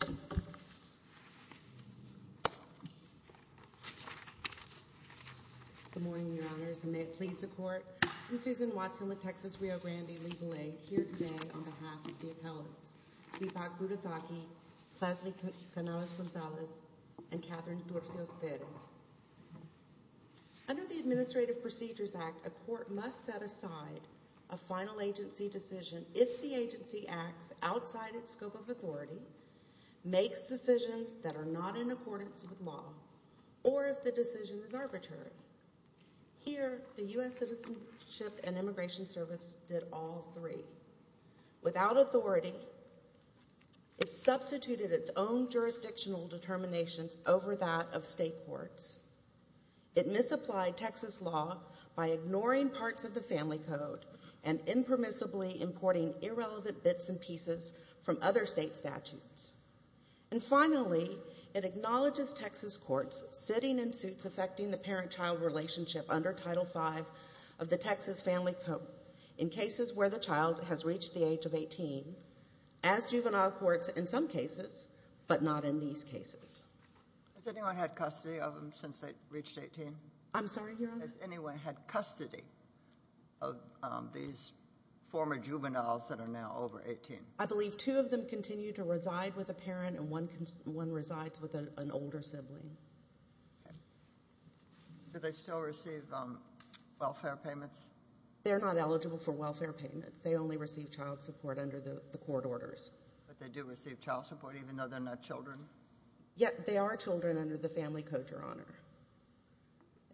Good morning, Your Honors, and may it please the Court, I'm Susan Watson with Texas Rio Grande Legal Aid here today on behalf of the appellants, Deepak Budhathoki, Clasmy Canales-Gonzalez, and Catherine Dorcios-Perez. Under the Administrative Procedures Act, a court must set aside a final agency decision if the agency acts outside its scope of authority, makes decisions that are not in accordance with law, or if the decision is arbitrary. Here the U.S. Citizenship and Immigration Service did all three. Without authority, it substituted its own jurisdictional determinations over that of state courts. It misapplied Texas law by ignoring parts of the Family Code and impermissibly importing irrelevant bits and pieces from other state statutes. And finally, it acknowledges Texas courts sitting in suits affecting the parent-child relationship under Title V of the Texas Family Code in cases where the child has reached the age of 18, as juvenile courts in some cases, but not in these cases. Has anyone had custody of them since they reached 18? I'm sorry, Your Honor? Has anyone had custody of these former juveniles that are now over 18? I believe two of them continue to reside with a parent and one resides with an older sibling. Do they still receive welfare payments? They're not eligible for welfare payments. They only receive child support under the court orders. But they do receive child support even though they're not children? Yeah, they are children under the Family Code, Your Honor.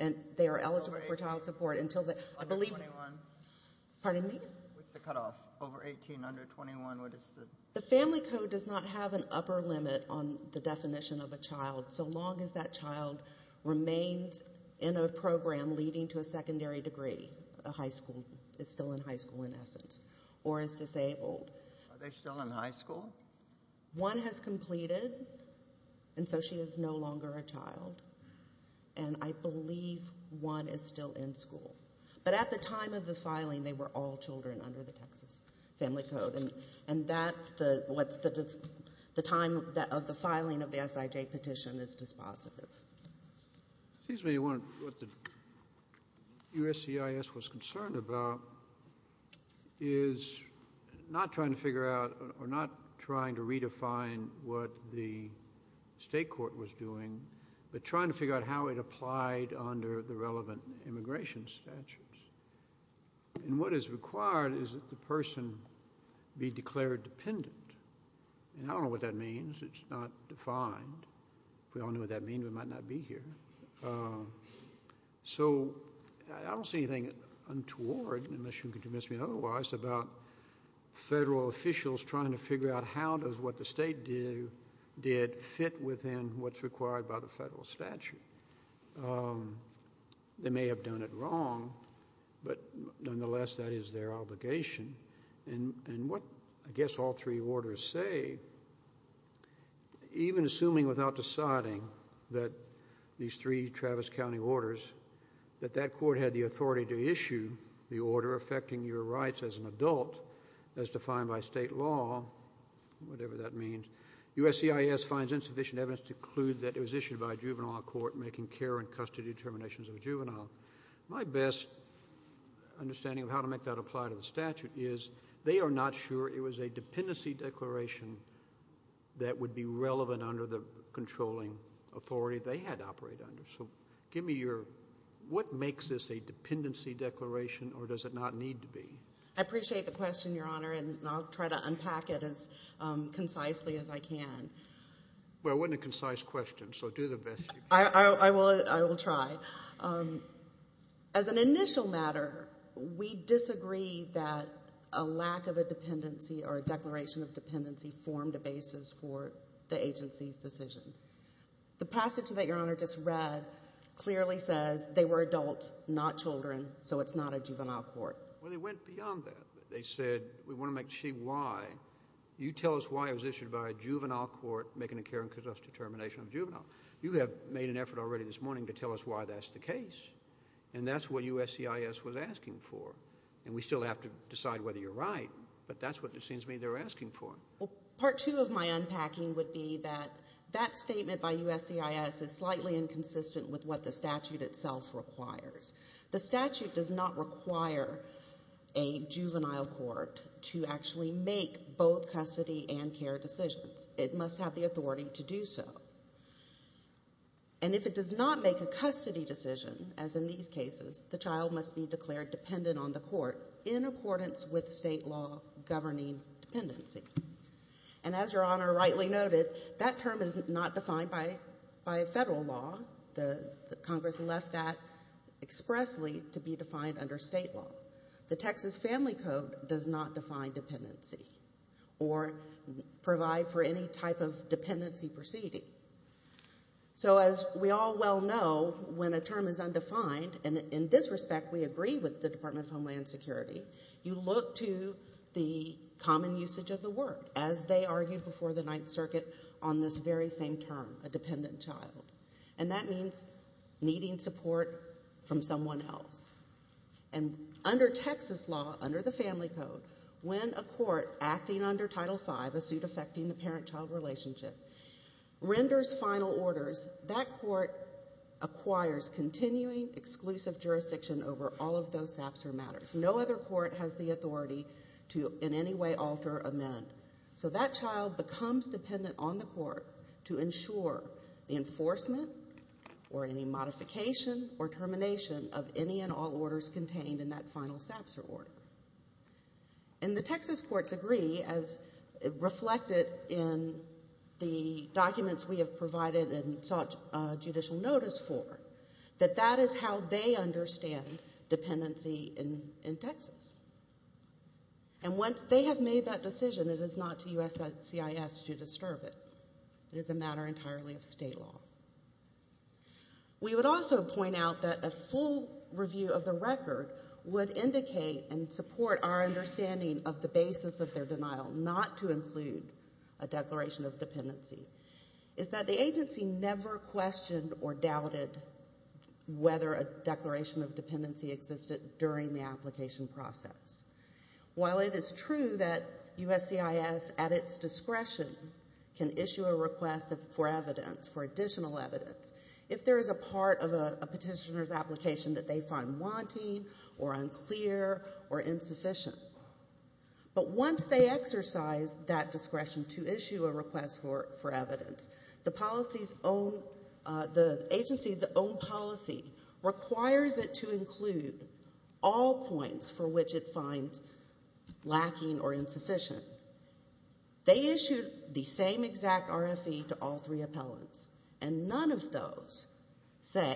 And they are eligible for child support until they're, I believe, pardon me? What's the cutoff? Over 18, under 21, what is the? The Family Code does not have an upper limit on the definition of a child so long as that child remains in a program leading to a secondary degree, a high school, is still in high school in essence, or is disabled. Are they still in high school? One has completed, and so she is no longer a child, and I believe one is still in school. But at the time of the filing, they were all children under the Texas Family Code, and that's the time of the filing of the SIJ petition is dispositive. Excuse me, what the USCIS was concerned about is not trying to figure out, or not trying to redefine what the state court was doing, but trying to figure out how it applied under the relevant immigration statutes. And what is required is that the person be declared dependent. And I don't know what that means. It's not defined. We all know what that means. We might not be here. So I don't see anything untoward, unless you can convince me otherwise, about federal officials trying to figure out how does what the state did fit within what's required by the federal statute. They may have done it wrong, but nonetheless, that is their obligation. And what I guess all three orders say, even assuming without deciding that these three Travis County orders, that that court had the authority to issue the order affecting your rights as an adult, as defined by state law, whatever that means, USCIS finds insufficient evidence to conclude that it was issued by a juvenile court making care and custody determinations of a juvenile. My best understanding of how to make that apply to the statute is they are not sure it was a dependency declaration that would be relevant under the controlling authority they had to operate under. So give me your what makes this a dependency declaration, or does it not need to be? I appreciate the question, Your Honor, and I'll try to unpack it as concisely as I can. Well, it wasn't a concise question, so do the best you can. I will try. As an initial matter, we disagree that a lack of a dependency or a declaration of dependency formed a basis for the agency's decision. The passage that Your Honor just read clearly says they were adults, not children, so it's not a juvenile court. Well, they went beyond that. They said we want to make sure you tell us why it was issued by a juvenile court making a care and custody determination of a juvenile. You have made an effort already this morning to tell us why that's the case, and that's what USCIS was asking for, and we still have to decide whether you're right, but that's what it seems to me they're asking for. Part two of my unpacking would be that that statement by USCIS is slightly inconsistent with what the statute itself requires. The statute does not require a juvenile court to actually make both custody and care decisions. It must have the authority to do so. And if it does not make a custody decision, as in these cases, the child must be declared dependent on the court in accordance with state law governing dependency. And as Your Honor rightly noted, that term is not defined by a federal law. Congress left that expressly to be defined under state law. The Texas Family Code does not define dependency or provide for any type of dependency proceeding. So as we all well know, when a term is undefined, and in this respect we agree with the Department of Homeland Security, you look to the common usage of the word, as they argued before the Ninth Circuit, on this very same term, a dependent child. And that means needing support from someone else. And under Texas law, under the Family Code, when a court acting under Title V, a suit affecting the parent-child relationship, renders final orders, that court acquires continuing exclusive jurisdiction over all of those SAPS or matters. No other court has the authority to in any way alter, amend. So that child becomes dependent on the court to ensure the enforcement or any modification or termination of any and all orders contained in that final SAPS or order. And the Texas courts agree, as reflected in the documents we have provided and sought judicial notice for, that that is how they understand dependency in Texas. And once they have made that decision, it is not to USCIS to disturb it. It is a matter entirely of state law. We would also point out that a full review of the record would indicate and support our understanding of the basis of their denial not to include a declaration of dependency. It's that the agency never questioned or doubted whether a declaration of dependency existed during the application process. While it is true that USCIS, at its discretion, can issue a request for evidence, for additional evidence, if there is a part of a petitioner's application that they find wanting or unclear or insufficient. But once they exercise that discretion to issue a request for evidence, the agency's own policy requires it to include all points for which it finds lacking or insufficient. They issue the same exact RFE to all three appellants. And none of those say,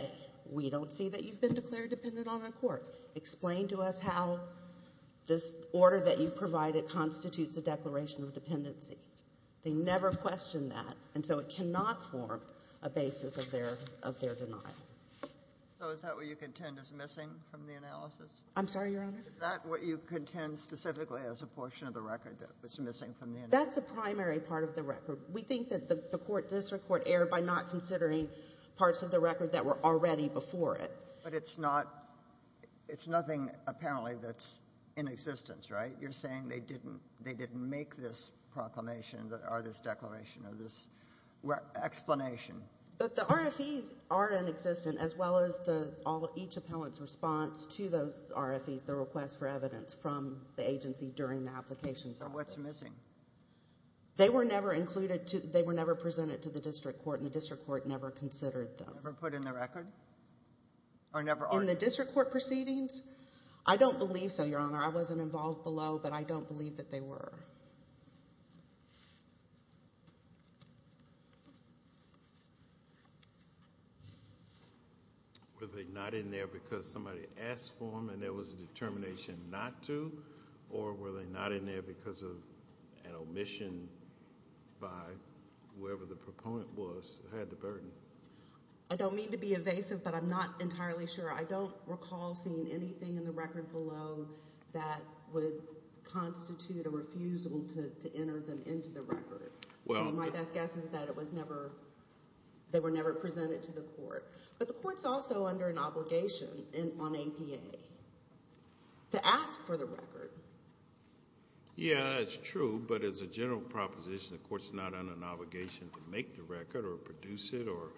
we don't see that you've been declared dependent on a court. Explain to us how this order that you've provided constitutes a declaration of dependency. They never question that. And so it cannot form a basis of their denial. So is that what you contend is missing from the analysis? I'm sorry, Your Honor? Is that what you contend specifically as a portion of the record that was missing from the analysis? That's a primary part of the record. We think that the court, district court, erred by not considering parts of the record that were already before it. But it's not, it's nothing apparently that's in existence, right? You're saying they didn't make this proclamation or this declaration or this explanation. But the RFEs are in existence as well as each appellant's response to those RFEs, the request for evidence from the agency during the application process. So what's missing? They were never included to, they were never presented to the district court, and the district court never considered them. Never put in the record? In the district court proceedings? I don't believe so, Your Honor. I wasn't involved below, but I don't believe that they were. Were they not in there because somebody asked for them and there was a determination not to? Or were they not in there because of an omission by whoever the proponent was who had the burden? I don't mean to be evasive, but I'm not entirely sure. I don't recall seeing anything in the record below that would constitute a refusal to enter them into the record. My best guess is that it was never, they were never presented to the court. But the court's also under an obligation on APA to ask for the record. Yeah, that's true, but as a general proposition, the court's not under an obligation to make the record or produce it or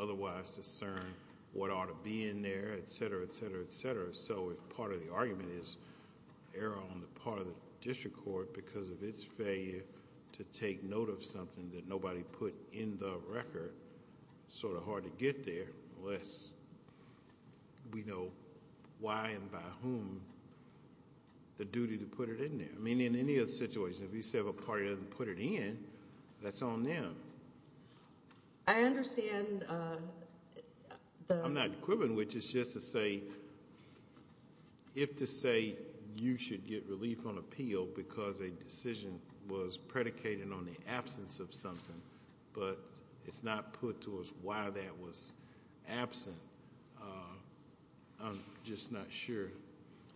otherwise discern what ought to be in there, et cetera, et cetera, et cetera. So if part of the argument is error on the part of the district court because of its failure to take note of something that nobody put in the record, sort of hard to get there unless we know why and by whom the duty to put it in there. I mean, in any other situation, if you say a party doesn't put it in, that's on them. I understand the- I'm not quibbling, which is just to say, if to say you should get relief on appeal because a decision was predicated on the absence of something, but it's not put to us why that was absent, I'm just not sure,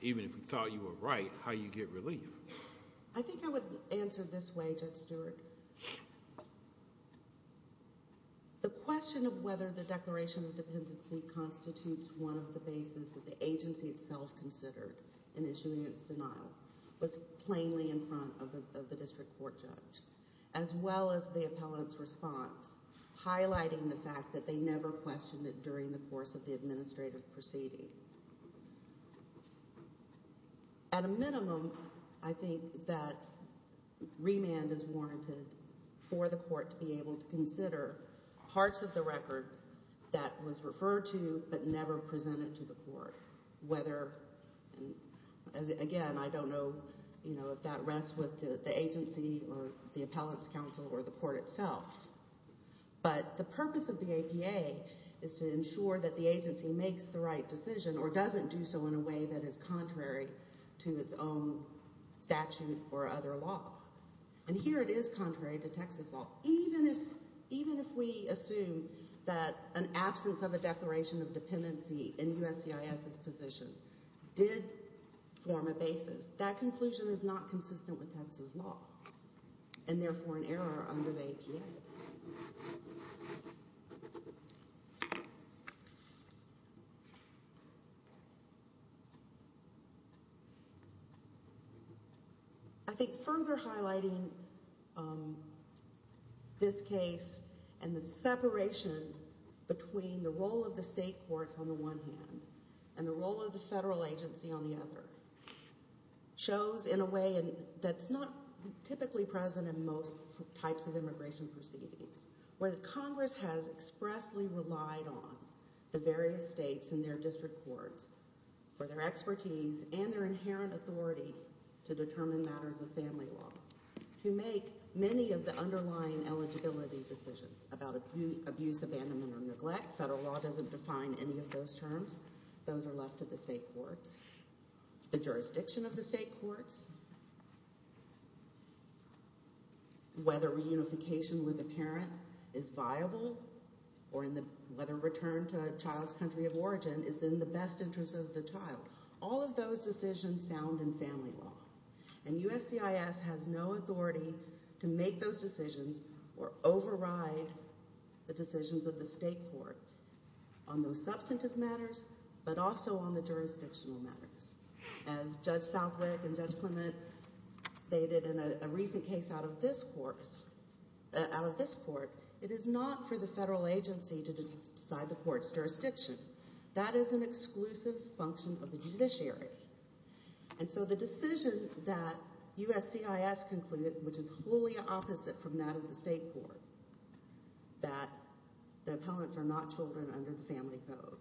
even if we thought you were right, how you get relief. I think I would answer this way, Judge Stewart. The question of whether the Declaration of Dependency constitutes one of the bases that the agency itself considered in issuing its denial was plainly in front of the district court judge, as well as the appellant's response, highlighting the fact that they never questioned it during the course of the administrative proceeding. At a minimum, I think that remand is warranted for the court to be able to consider parts of the record that was referred to but never presented to the court, whether, again, I don't know if that rests with the agency or the appellant's counsel or the court itself, but the purpose of the APA is to ensure that the agency makes the right decision or doesn't do so in a way that is contrary to its own statute or other law. And here it is contrary to Texas law. Even if we assume that an absence of a Declaration of Dependency in USCIS's position did form a basis, that conclusion is not consistent with Texas law and therefore an error under the APA. I think further highlighting this case and the separation between the role of the state courts on the one hand and the role of the federal agency on the other shows in a way that's not typically present in most types of immigration proceedings, where the Congress has expressly relied on the various states and their district courts for their expertise and their inherent authority to determine matters of family law to make many of the underlying eligibility decisions about abuse, abandonment, or neglect. Federal law doesn't define any of those terms. Those are left to the state courts. The jurisdiction of the state courts, whether reunification with a parent is viable or whether return to a child's country of origin is in the best interest of the child, all of those decisions sound in family law. And USCIS has no authority to make those decisions or override the decisions of the state court on those substantive matters but also on the jurisdictional matters. As Judge Southwick and Judge Clement stated in a recent case out of this court, it is not for the federal agency to decide the court's jurisdiction. That is an exclusive function of the judiciary. And so the decision that USCIS concluded, which is wholly opposite from that of the state court, that the appellants are not children under the family code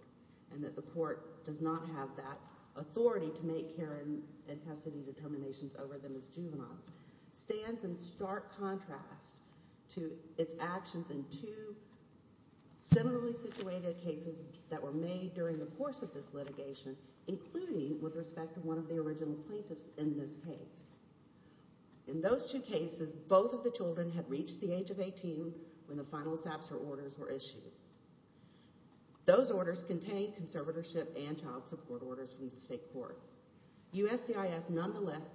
and that the court does not have that authority to make care and custody determinations over them as juveniles stands in stark contrast to its actions in two similarly situated cases that were made during the course of this litigation, including with respect to one of the original plaintiffs in this case. In those two cases, both of the children had reached the age of 18 when the final SAPSHA orders were issued. Those orders contained conservatorship and child support orders from the state court. USCIS nonetheless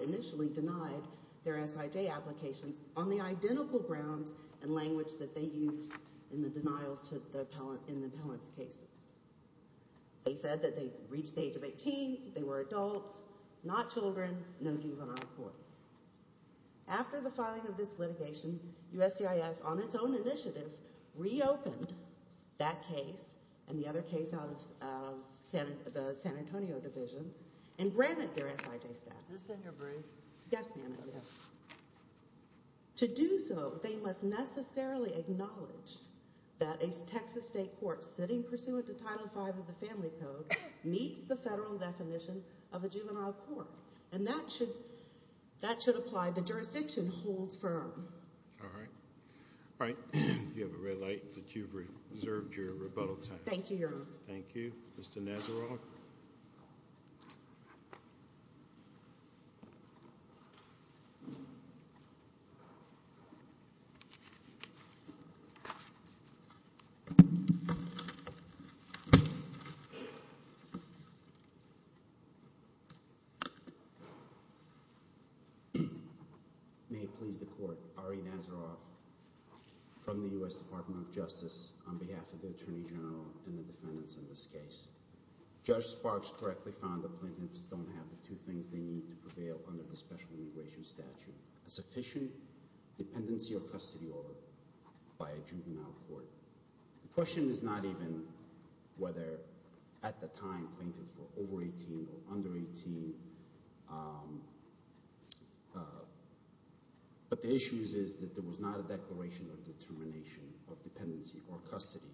initially denied their SIJ applications on the identical grounds and language that they used in the denials to the appellant in the appellant's cases. They said that they reached the age of 18, they were adults, not children, no juvenile court. After the filing of this litigation, USCIS, on its own initiative, reopened that case and the other case out of the San Antonio division and granted their SIJ staff. Can I send your brief? Yes, ma'am. To do so, they must necessarily acknowledge that a Texas state court sitting pursuant to Title V of the Family Code meets the federal definition of a juvenile court, and that should apply. The jurisdiction holds firm. All right. All right. You have a red light, but you've reserved your rebuttal time. Thank you, Your Honor. Thank you. Mr. Nazaroff? May it please the court. Ari Nazaroff from the U.S. Department of Justice on behalf of the Attorney General and the defendants in this case. Judge Sparks correctly found that plaintiffs don't have the two things they need to prevail under the special immigration statute, a sufficient dependency or custody order by a juvenile court. The question is not even whether at the time plaintiffs were over 18 or under 18, but the issue is that there was not a declaration of determination of dependency or custody.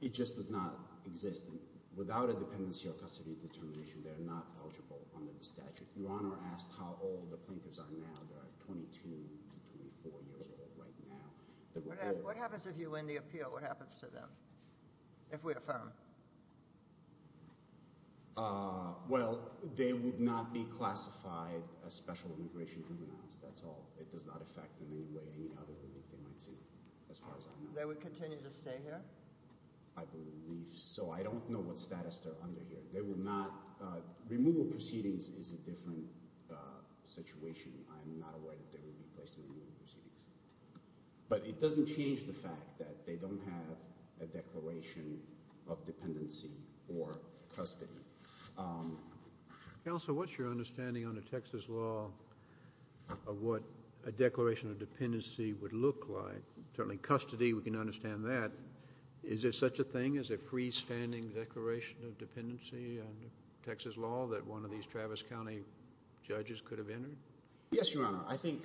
It just does not exist. Without a dependency or custody determination, they are not eligible under the statute. Your Honor asked how old the plaintiffs are now. They are 22 to 24 years old right now. What happens if you win the appeal? What happens to them if we affirm? Well, they would not be classified as special immigration criminals. That's all. It does not affect in any way any other relief they might see as far as I know. They would continue to stay here? I believe so. I don't know what status they're under here. They will not. Removal proceedings is a different situation. I'm not aware that they will be placed in removal proceedings. But it doesn't change the fact that they don't have a declaration of dependency or custody. Counsel, what's your understanding under Texas law of what a declaration of dependency would look like? Certainly custody, we can understand that. Is there such a thing as a freestanding declaration of dependency under Texas law that one of these Travis County judges could have entered? Yes, Your Honor. I think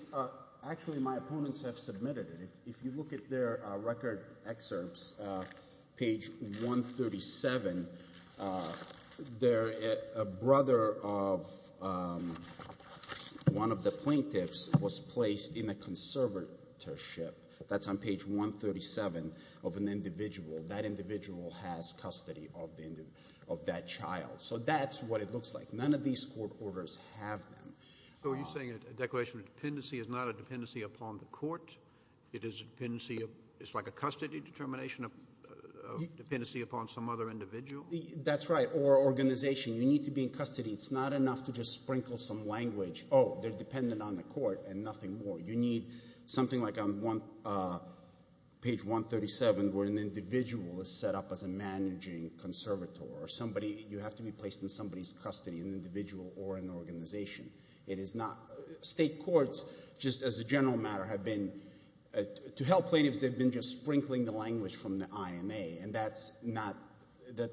actually my opponents have submitted it. If you look at their record excerpts, page 137, a brother of one of the plaintiffs was placed in a conservatorship. That's on page 137 of an individual. That individual has custody of that child. So that's what it looks like. None of these court orders have them. So are you saying a declaration of dependency is not a dependency upon the court? It's like a custody determination of dependency upon some other individual? That's right. Or organization. You need to be in custody. It's not enough to just sprinkle some language. Oh, they're dependent on the court and nothing more. You need something like on page 137 where an individual is set up as a managing conservator. You have to be placed in somebody's custody, an individual or an organization. State courts, just as a general matter, have been, to help plaintiffs, they've been just sprinkling the language from the IMA, and that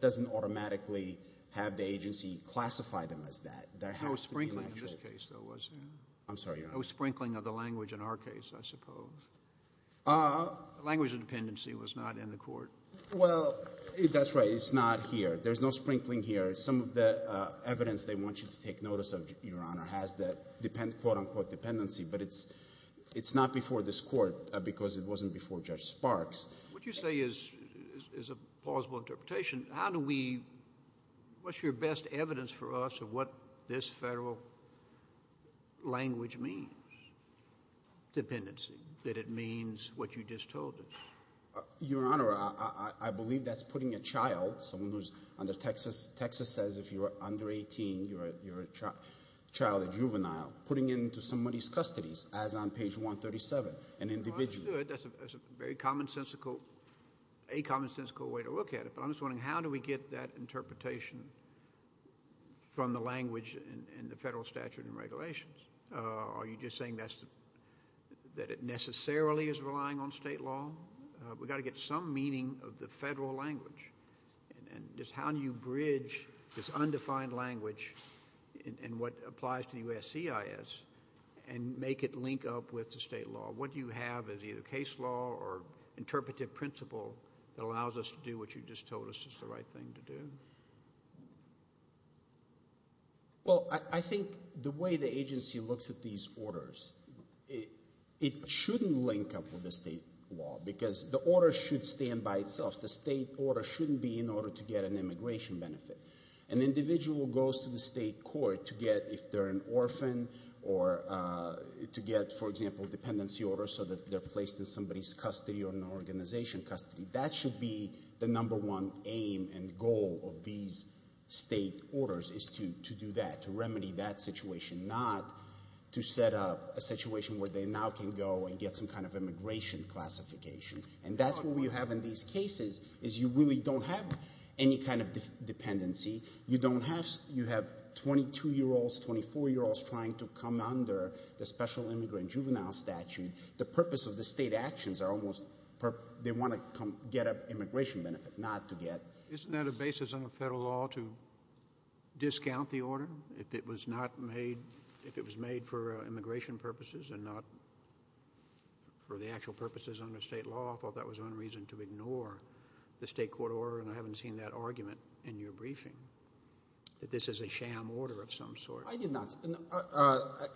doesn't automatically have the agency classify them as that. No sprinkling in this case, though, was there? I'm sorry, Your Honor. No sprinkling of the language in our case, I suppose. Language of dependency was not in the court. Well, that's right. It's not here. There's no sprinkling here. Some of the evidence they want you to take notice of, Your Honor, has the quote-unquote dependency, but it's not before this court because it wasn't before Judge Sparks. What you say is a plausible interpretation. How do we—what's your best evidence for us of what this federal language means, dependency, that it means what you just told us? Your Honor, I believe that's putting a child, someone who's under—Texas says if you're under 18, you're a child, a juvenile, putting into somebody's custody, as on page 137, an individual. Well, I understood. That's a very commonsensical, a commonsensical way to look at it, but I'm just wondering how do we get that interpretation from the language in the federal statute and regulations? Are you just saying that it necessarily is relying on state law? We've got to get some meaning of the federal language, and just how do you bridge this undefined language and what applies to USCIS and make it link up with the state law? What do you have as either case law or interpretive principle that allows us to do what you just told us is the right thing to do? Well, I think the way the agency looks at these orders, it shouldn't link up with the state law because the order should stand by itself. The state order shouldn't be in order to get an immigration benefit. An individual goes to the state court to get, if they're an orphan, or to get, for example, dependency orders so that they're placed in somebody's custody or an organization custody. That should be the number one aim and goal of these state orders is to do that, to remedy that situation, not to set up a situation where they now can go and get some kind of immigration classification. And that's what we have in these cases is you really don't have any kind of dependency. You have 22-year-olds, 24-year-olds trying to come under the special immigrant juvenile statute. The purpose of the state actions are almost they want to get an immigration benefit, not to get. Isn't that a basis under federal law to discount the order? If it was made for immigration purposes and not for the actual purposes under state law, I thought that was one reason to ignore the state court order, and I haven't seen that argument in your briefing, that this is a sham order of some sort. I did not.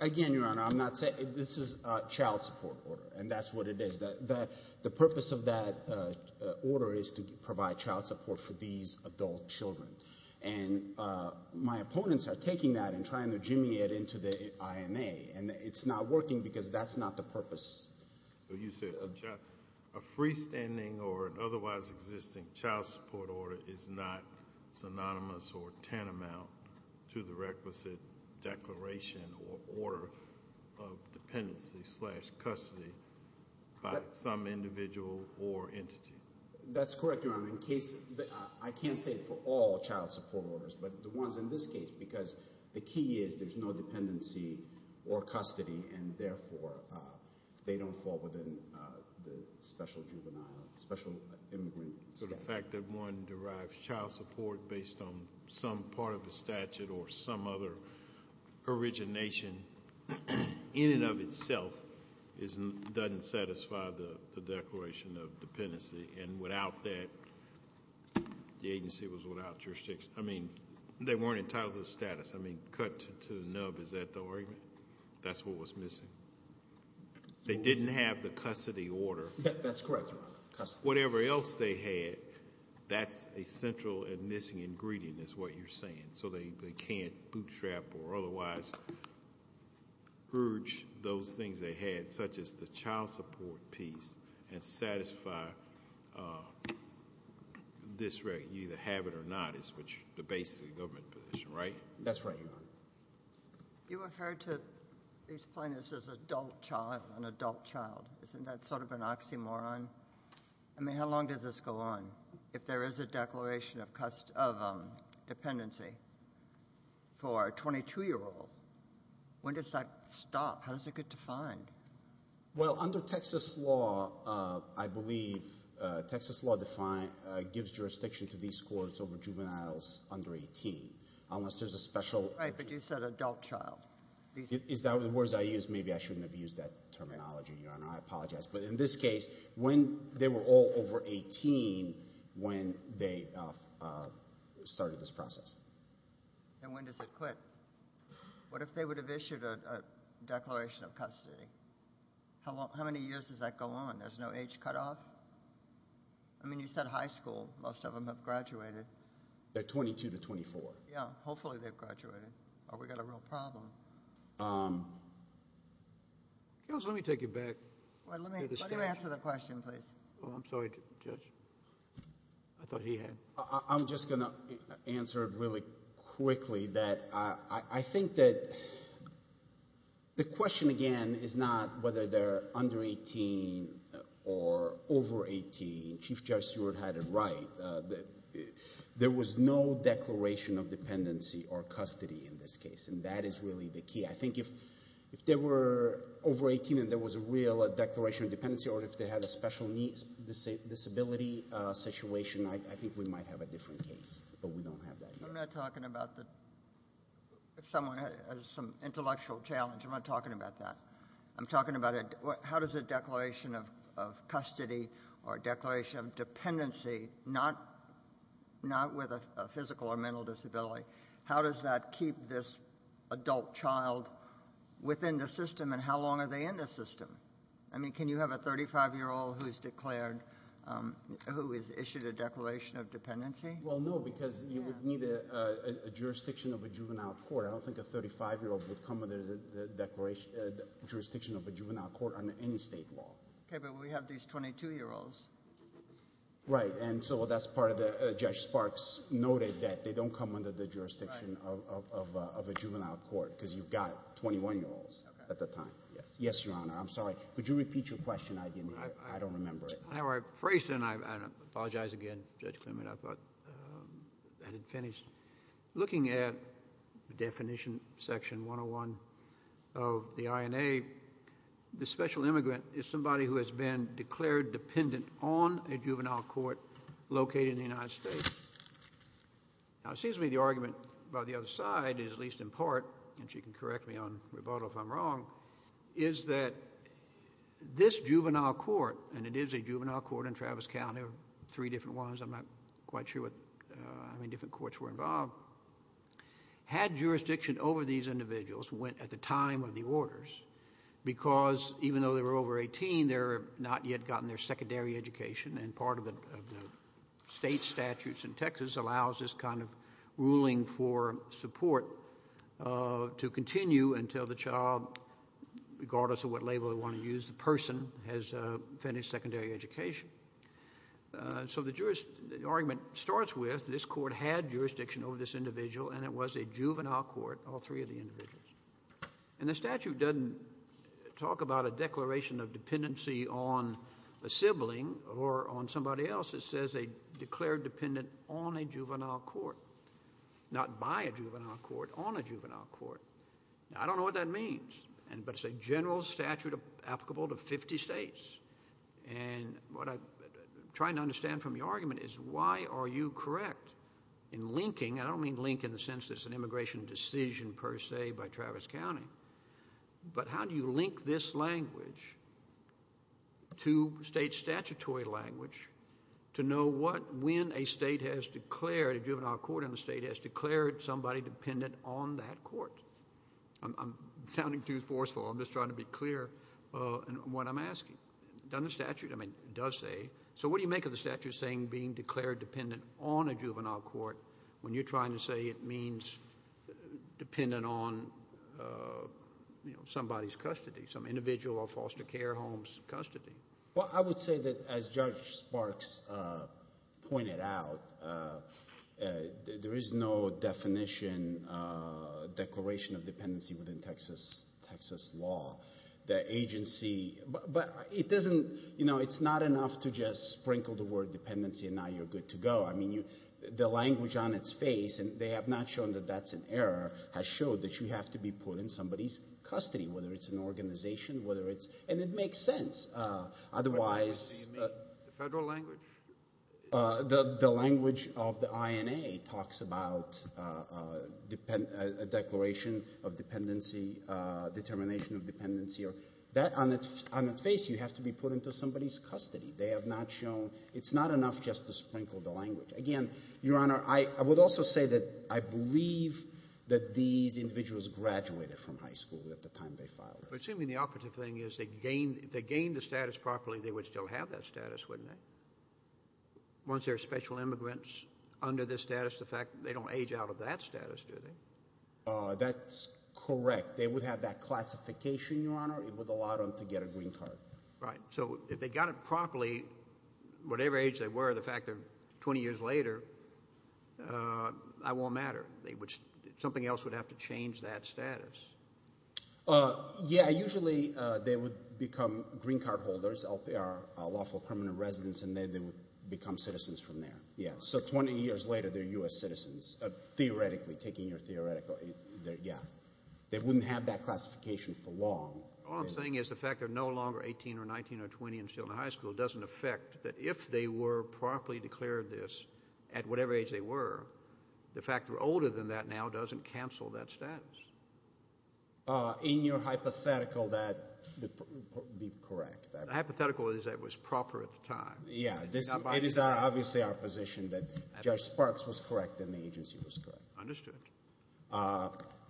Again, Your Honor, I'm not saying this is a child support order, and that's what it is. The purpose of that order is to provide child support for these adult children. And my opponents are taking that and trying to jimmy it into the INA, and it's not working because that's not the purpose. You said a freestanding or otherwise existing child support order is not synonymous or tantamount to the requisite declaration or order of dependency slash custody by some individual or entity. That's correct, Your Honor. I can't say it for all child support orders, but the ones in this case, because the key is there's no dependency or custody, and, therefore, they don't fall within the special juvenile, special immigrant statute. So the fact that one derives child support based on some part of the statute or some other origination in and of itself doesn't satisfy the declaration of dependency, and without that, the agency was without jurisdiction. I mean, they weren't entitled to the status. I mean, cut to the nub, is that the argument? That's what was missing. They didn't have the custody order. That's correct, Your Honor, custody. Whatever else they had, that's a central and missing ingredient is what you're saying. So they can't bootstrap or otherwise urge those things they had, such as the child support piece, and satisfy this record. You either have it or not is the basis of the government position, right? That's right, Your Honor. You referred to these plaintiffs as an adult child. Isn't that sort of an oxymoron? I mean, how long does this go on if there is a declaration of dependency for a 22-year-old? When does that stop? How does it get defined? Well, under Texas law, I believe, Texas law gives jurisdiction to these courts over juveniles under 18, unless there's a special— Right, but you said adult child. Is that the words I used? Maybe I shouldn't have used that terminology, Your Honor. I apologize. But in this case, when they were all over 18 when they started this process. And when does it quit? What if they would have issued a declaration of custody? How many years does that go on? There's no age cutoff? I mean, you said high school. Most of them have graduated. They're 22 to 24. Yeah, hopefully they've graduated, or we've got a real problem. Counsel, let me take it back. Let him answer the question, please. I'm sorry, Judge. I thought he had. I'm just going to answer it really quickly. I think that the question, again, is not whether they're under 18 or over 18. Chief Judge Stewart had it right. There was no declaration of dependency or custody in this case, and that is really the key. I think if they were over 18 and there was a real declaration of dependency or if they had a special disability situation, I think we might have a different case. But we don't have that yet. I'm not talking about if someone has some intellectual challenge. I'm not talking about that. I'm talking about how does a declaration of custody or a declaration of dependency, not with a physical or mental disability, how does that keep this adult child within the system, and how long are they in the system? I mean, can you have a 35-year-old who is declared, who is issued a declaration of dependency? Well, no, because you would need a jurisdiction of a juvenile court. I don't think a 35-year-old would come under the jurisdiction of a juvenile court under any state law. Okay, but we have these 22-year-olds. Right, and so that's part of the – Judge Sparks noted that they don't come under the jurisdiction of a juvenile court because you've got 21-year-olds at the time. Yes, Your Honor. I'm sorry. Could you repeat your question? I didn't hear it. I don't remember it. I phrased it, and I apologize again, Judge Klinman. I thought I had it finished. Looking at definition section 101 of the INA, the special immigrant is somebody who has been declared dependent on a juvenile court located in the United States. Now, it seems to me the argument by the other side is, at least in part, and she can correct me on rebuttal if I'm wrong, is that this juvenile court, and it is a juvenile court in Travis County, three different ones, I'm not quite sure how many different courts were involved, had jurisdiction over these individuals at the time of the orders because even though they were over 18, they had not yet gotten their secondary education, and part of the state statutes in Texas allows this kind of ruling for support to continue until the child, regardless of what label they want to use, the person has finished secondary education. So the argument starts with this court had jurisdiction over this individual, and it was a juvenile court, all three of the individuals. And the statute doesn't talk about a declaration of dependency on a sibling or on somebody else. It says they declared dependent on a juvenile court, not by a juvenile court, on a juvenile court. Now, I don't know what that means, but it's a general statute applicable to 50 states, and what I'm trying to understand from your argument is why are you correct in linking, and I don't mean link in the sense that it's an immigration decision per se by Travis County, but how do you link this language to state statutory language to know when a state has declared, a juvenile court in the state has declared somebody dependent on that court? I'm sounding too forceful. I'm just trying to be clear in what I'm asking. Does the statute, I mean, it does say. So what do you make of the statute saying being declared dependent on a juvenile court when you're trying to say it means dependent on somebody's custody, some individual or foster care home's custody? Well, I would say that as Judge Sparks pointed out, there is no definition, declaration of dependency within Texas law. The agency, but it doesn't, you know, it's not enough to just sprinkle the word dependency and now you're good to go. I mean, the language on its face, and they have not shown that that's an error, has showed that you have to be put in somebody's custody, whether it's an organization, whether it's, and it makes sense, otherwise. The federal language? The language of the INA talks about a declaration of dependency, determination of dependency. That on its face, you have to be put into somebody's custody. They have not shown, it's not enough just to sprinkle the language. Again, Your Honor, I would also say that I believe that these individuals graduated from high school at the time they filed. Assuming the opposite thing is they gained the status properly, they would still have that status, wouldn't they? Once they're special immigrants under this status, the fact that they don't age out of that status, do they? That's correct. They would have that classification, Your Honor. It would allow them to get a green card. Right. So if they got it properly, whatever age they were, the fact they're 20 years later, that won't matter. Something else would have to change that status. Yeah, usually they would become green card holders, LPR, lawful permanent residents, and then they would become citizens from there. So 20 years later, they're U.S. citizens, theoretically, taking your theoretical, yeah. They wouldn't have that classification for long. All I'm saying is the fact they're no longer 18 or 19 or 20 and still in high school doesn't affect that if they were properly declared this at whatever age they were, the fact they're older than that now doesn't cancel that status. In your hypothetical, that would be correct. The hypothetical is that it was proper at the time. Yeah. It is obviously our position that Judge Sparks was correct and the agency was correct. Understood.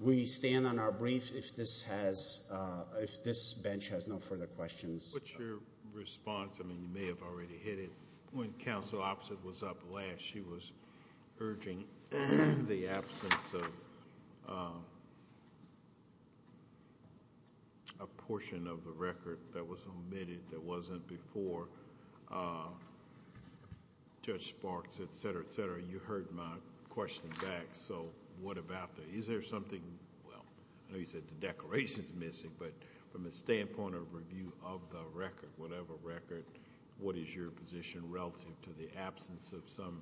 We stand on our briefs if this bench has no further questions. What's your response? I mean, you may have already hit it. When Counsel Oppsitt was up last, she was urging the absence of a portion of the record that was omitted, that wasn't before Judge Sparks, et cetera, et cetera. You heard my question back, so what about that? Is there something... well, I know you said the declaration is missing, but from the standpoint of review of the record, whatever record, what is your position relative to the absence of some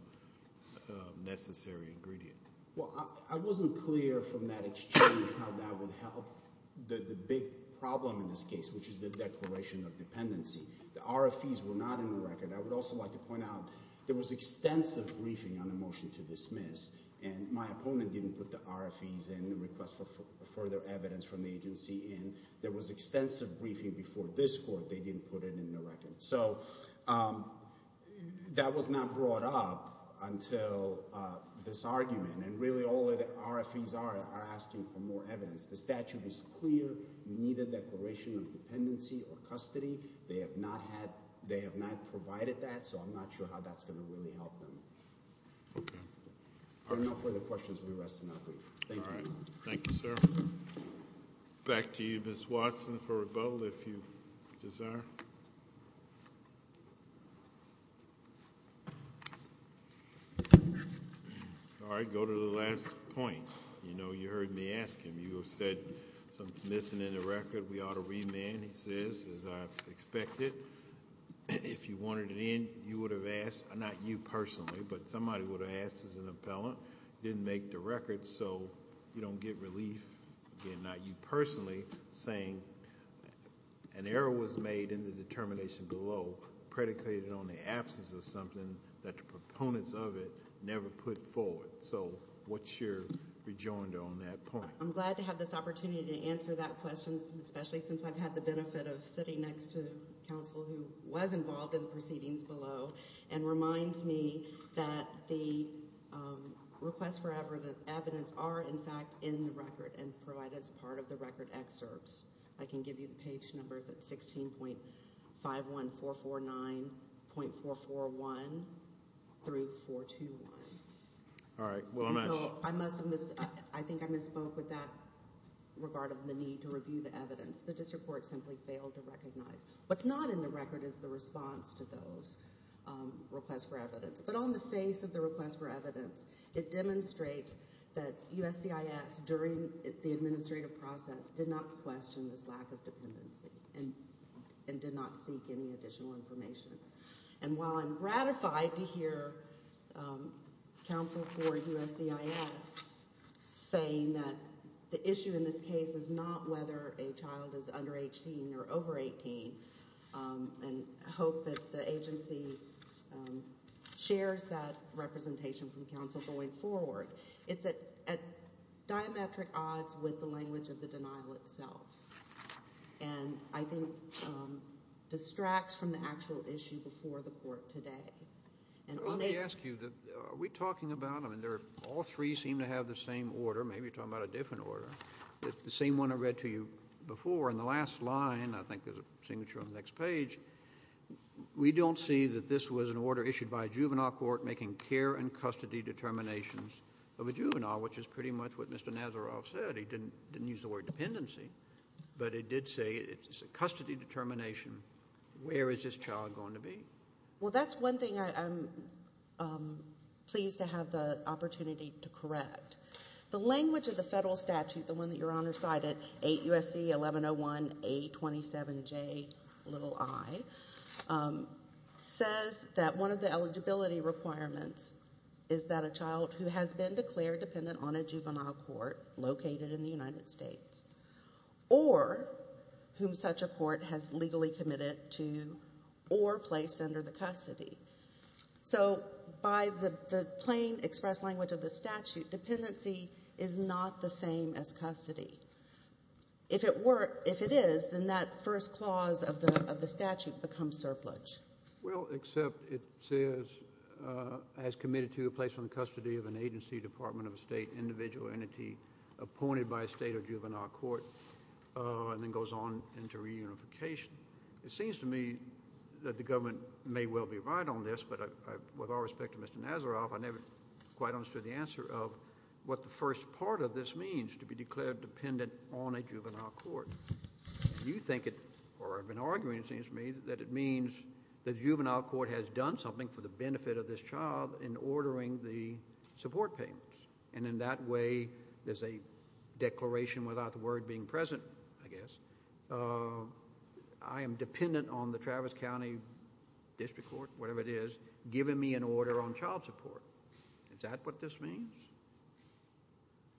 necessary ingredient? Well, I wasn't clear from that exchange how that would help the big problem in this case, which is the declaration of dependency. The RFEs were not in the record. I would also like to point out there was extensive briefing on the motion to dismiss, and my opponent didn't put the RFEs in, the request for further evidence from the agency in. There was extensive briefing before this court. They didn't put it in the record. So that was not brought up until this argument, and really all of the RFEs are asking for more evidence. The statute is clear. You need a declaration of dependency or custody. They have not provided that, so I'm not sure how that's going to really help them. Okay. There are no further questions. We rest now, please. Thank you. All right. Thank you, sir. Back to you, Ms. Watson, for rebuttal, if you desire. All right, go to the last point. You know, you heard me ask him. You said something's missing in the record. We ought to remand, he says, as I expected. If you wanted it in, you would have asked, not you personally, but somebody would have asked as an appellant. You didn't make the record, so you don't get relief, again, not you personally, saying an error was made in the determination below predicated on the absence of something that the proponents of it never put forward. So what's your rejoinder on that point? I'm glad to have this opportunity to answer that question, especially since I've had the benefit of sitting next to counsel who was involved in the proceedings below and reminds me that the request for evidence are, in fact, in the record and provided as part of the record excerpts. I can give you the page numbers at 16.51449.441 through 421. All right. I think I misspoke with that regard of the need to review the evidence. The district court simply failed to recognize. What's not in the record is the response to those requests for evidence. But on the face of the request for evidence, it demonstrates that USCIS, during the administrative process, did not question this lack of dependency and did not seek any additional information. And while I'm gratified to hear counsel for USCIS saying that the issue in this case is not whether a child is under 18 or over 18 and hope that the agency shares that representation from counsel going forward, it's at diametric odds with the language of the denial itself and I think distracts from the actual issue before the court today. Let me ask you, are we talking about, I mean, all three seem to have the same order. Maybe you're talking about a different order. The same one I read to you before in the last line, I think there's a signature on the next page. We don't see that this was an order issued by a juvenile court making care and custody determinations of a juvenile, which is pretty much what Mr. Nazaroff said. He didn't use the word dependency, but it did say it's a custody determination. Where is this child going to be? Well, that's one thing I'm pleased to have the opportunity to correct. The language of the federal statute, the one that Your Honor cited, 8 U.S.C. 1101A27J i, says that one of the eligibility requirements is that a child who has been declared dependent on a juvenile court located in the United States or whom such a court has legally committed to or placed under the custody. So by the plain expressed language of the statute, dependency is not the same as custody. If it were, if it is, then that first clause of the statute becomes surplus. Well, except it says as committed to a place under the custody of an agency, Department of State, individual entity appointed by a state or juvenile court, and then goes on into reunification. It seems to me that the government may well be right on this, but with all respect to Mr. Nazaroff, I never quite understood the answer of what the first part of this means, to be declared dependent on a juvenile court. You think it, or have been arguing, it seems to me, that it means the juvenile court has done something for the benefit of this child in ordering the support payments. And in that way, there's a declaration without the word being present, I guess. I am dependent on the Travis County District Court, whatever it is, giving me an order on child support. Is that what this means?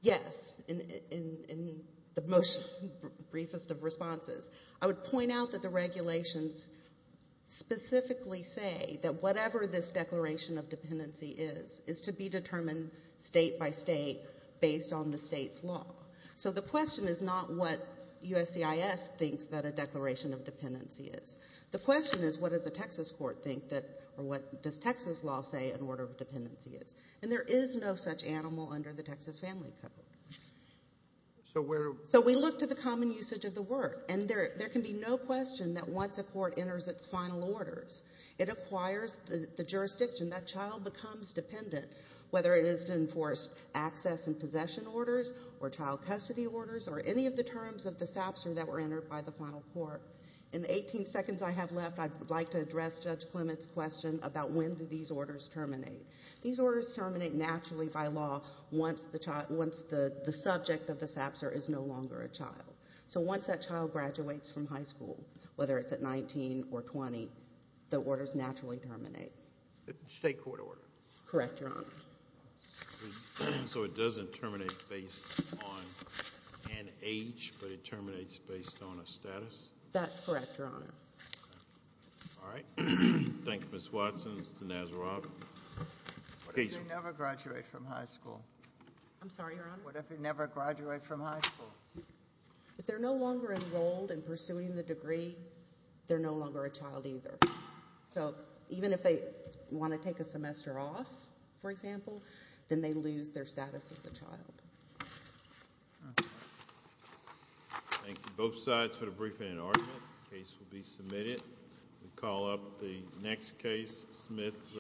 Yes, in the most briefest of responses. I would point out that the regulations specifically say that whatever this declaration of dependency is, is to be determined state by state based on the state's law. So the question is not what USCIS thinks that a declaration of dependency is. The question is, what does a Texas court think that, or what does Texas law say an order of dependency is? And there is no such animal under the Texas Family Code. So we look to the common usage of the word. And there can be no question that once a court enters its final orders, it acquires the jurisdiction. That child becomes dependent, whether it is to enforce access and possession orders, or child custody orders, or any of the terms of the SAPSR that were entered by the final court. In the 18 seconds I have left, I'd like to address Judge Clement's question about when do these orders terminate. These orders terminate naturally by law once the subject of the SAPSR is no longer a child. So once that child graduates from high school, whether it's at 19 or 20, the orders naturally terminate. State court order. Correct, Your Honor. So it doesn't terminate based on an age, but it terminates based on a status? That's correct, Your Honor. All right. Thank you, Ms. Watson. Mr. Nasrallah. What if you never graduate from high school? I'm sorry, Your Honor? What if you never graduate from high school? If they're no longer enrolled in pursuing the degree, they're no longer a child either. So even if they want to take a semester off, for example, then they lose their status as a child. Thank you, both sides, for the briefing and argument. The case will be submitted. We call up the next case, Smith.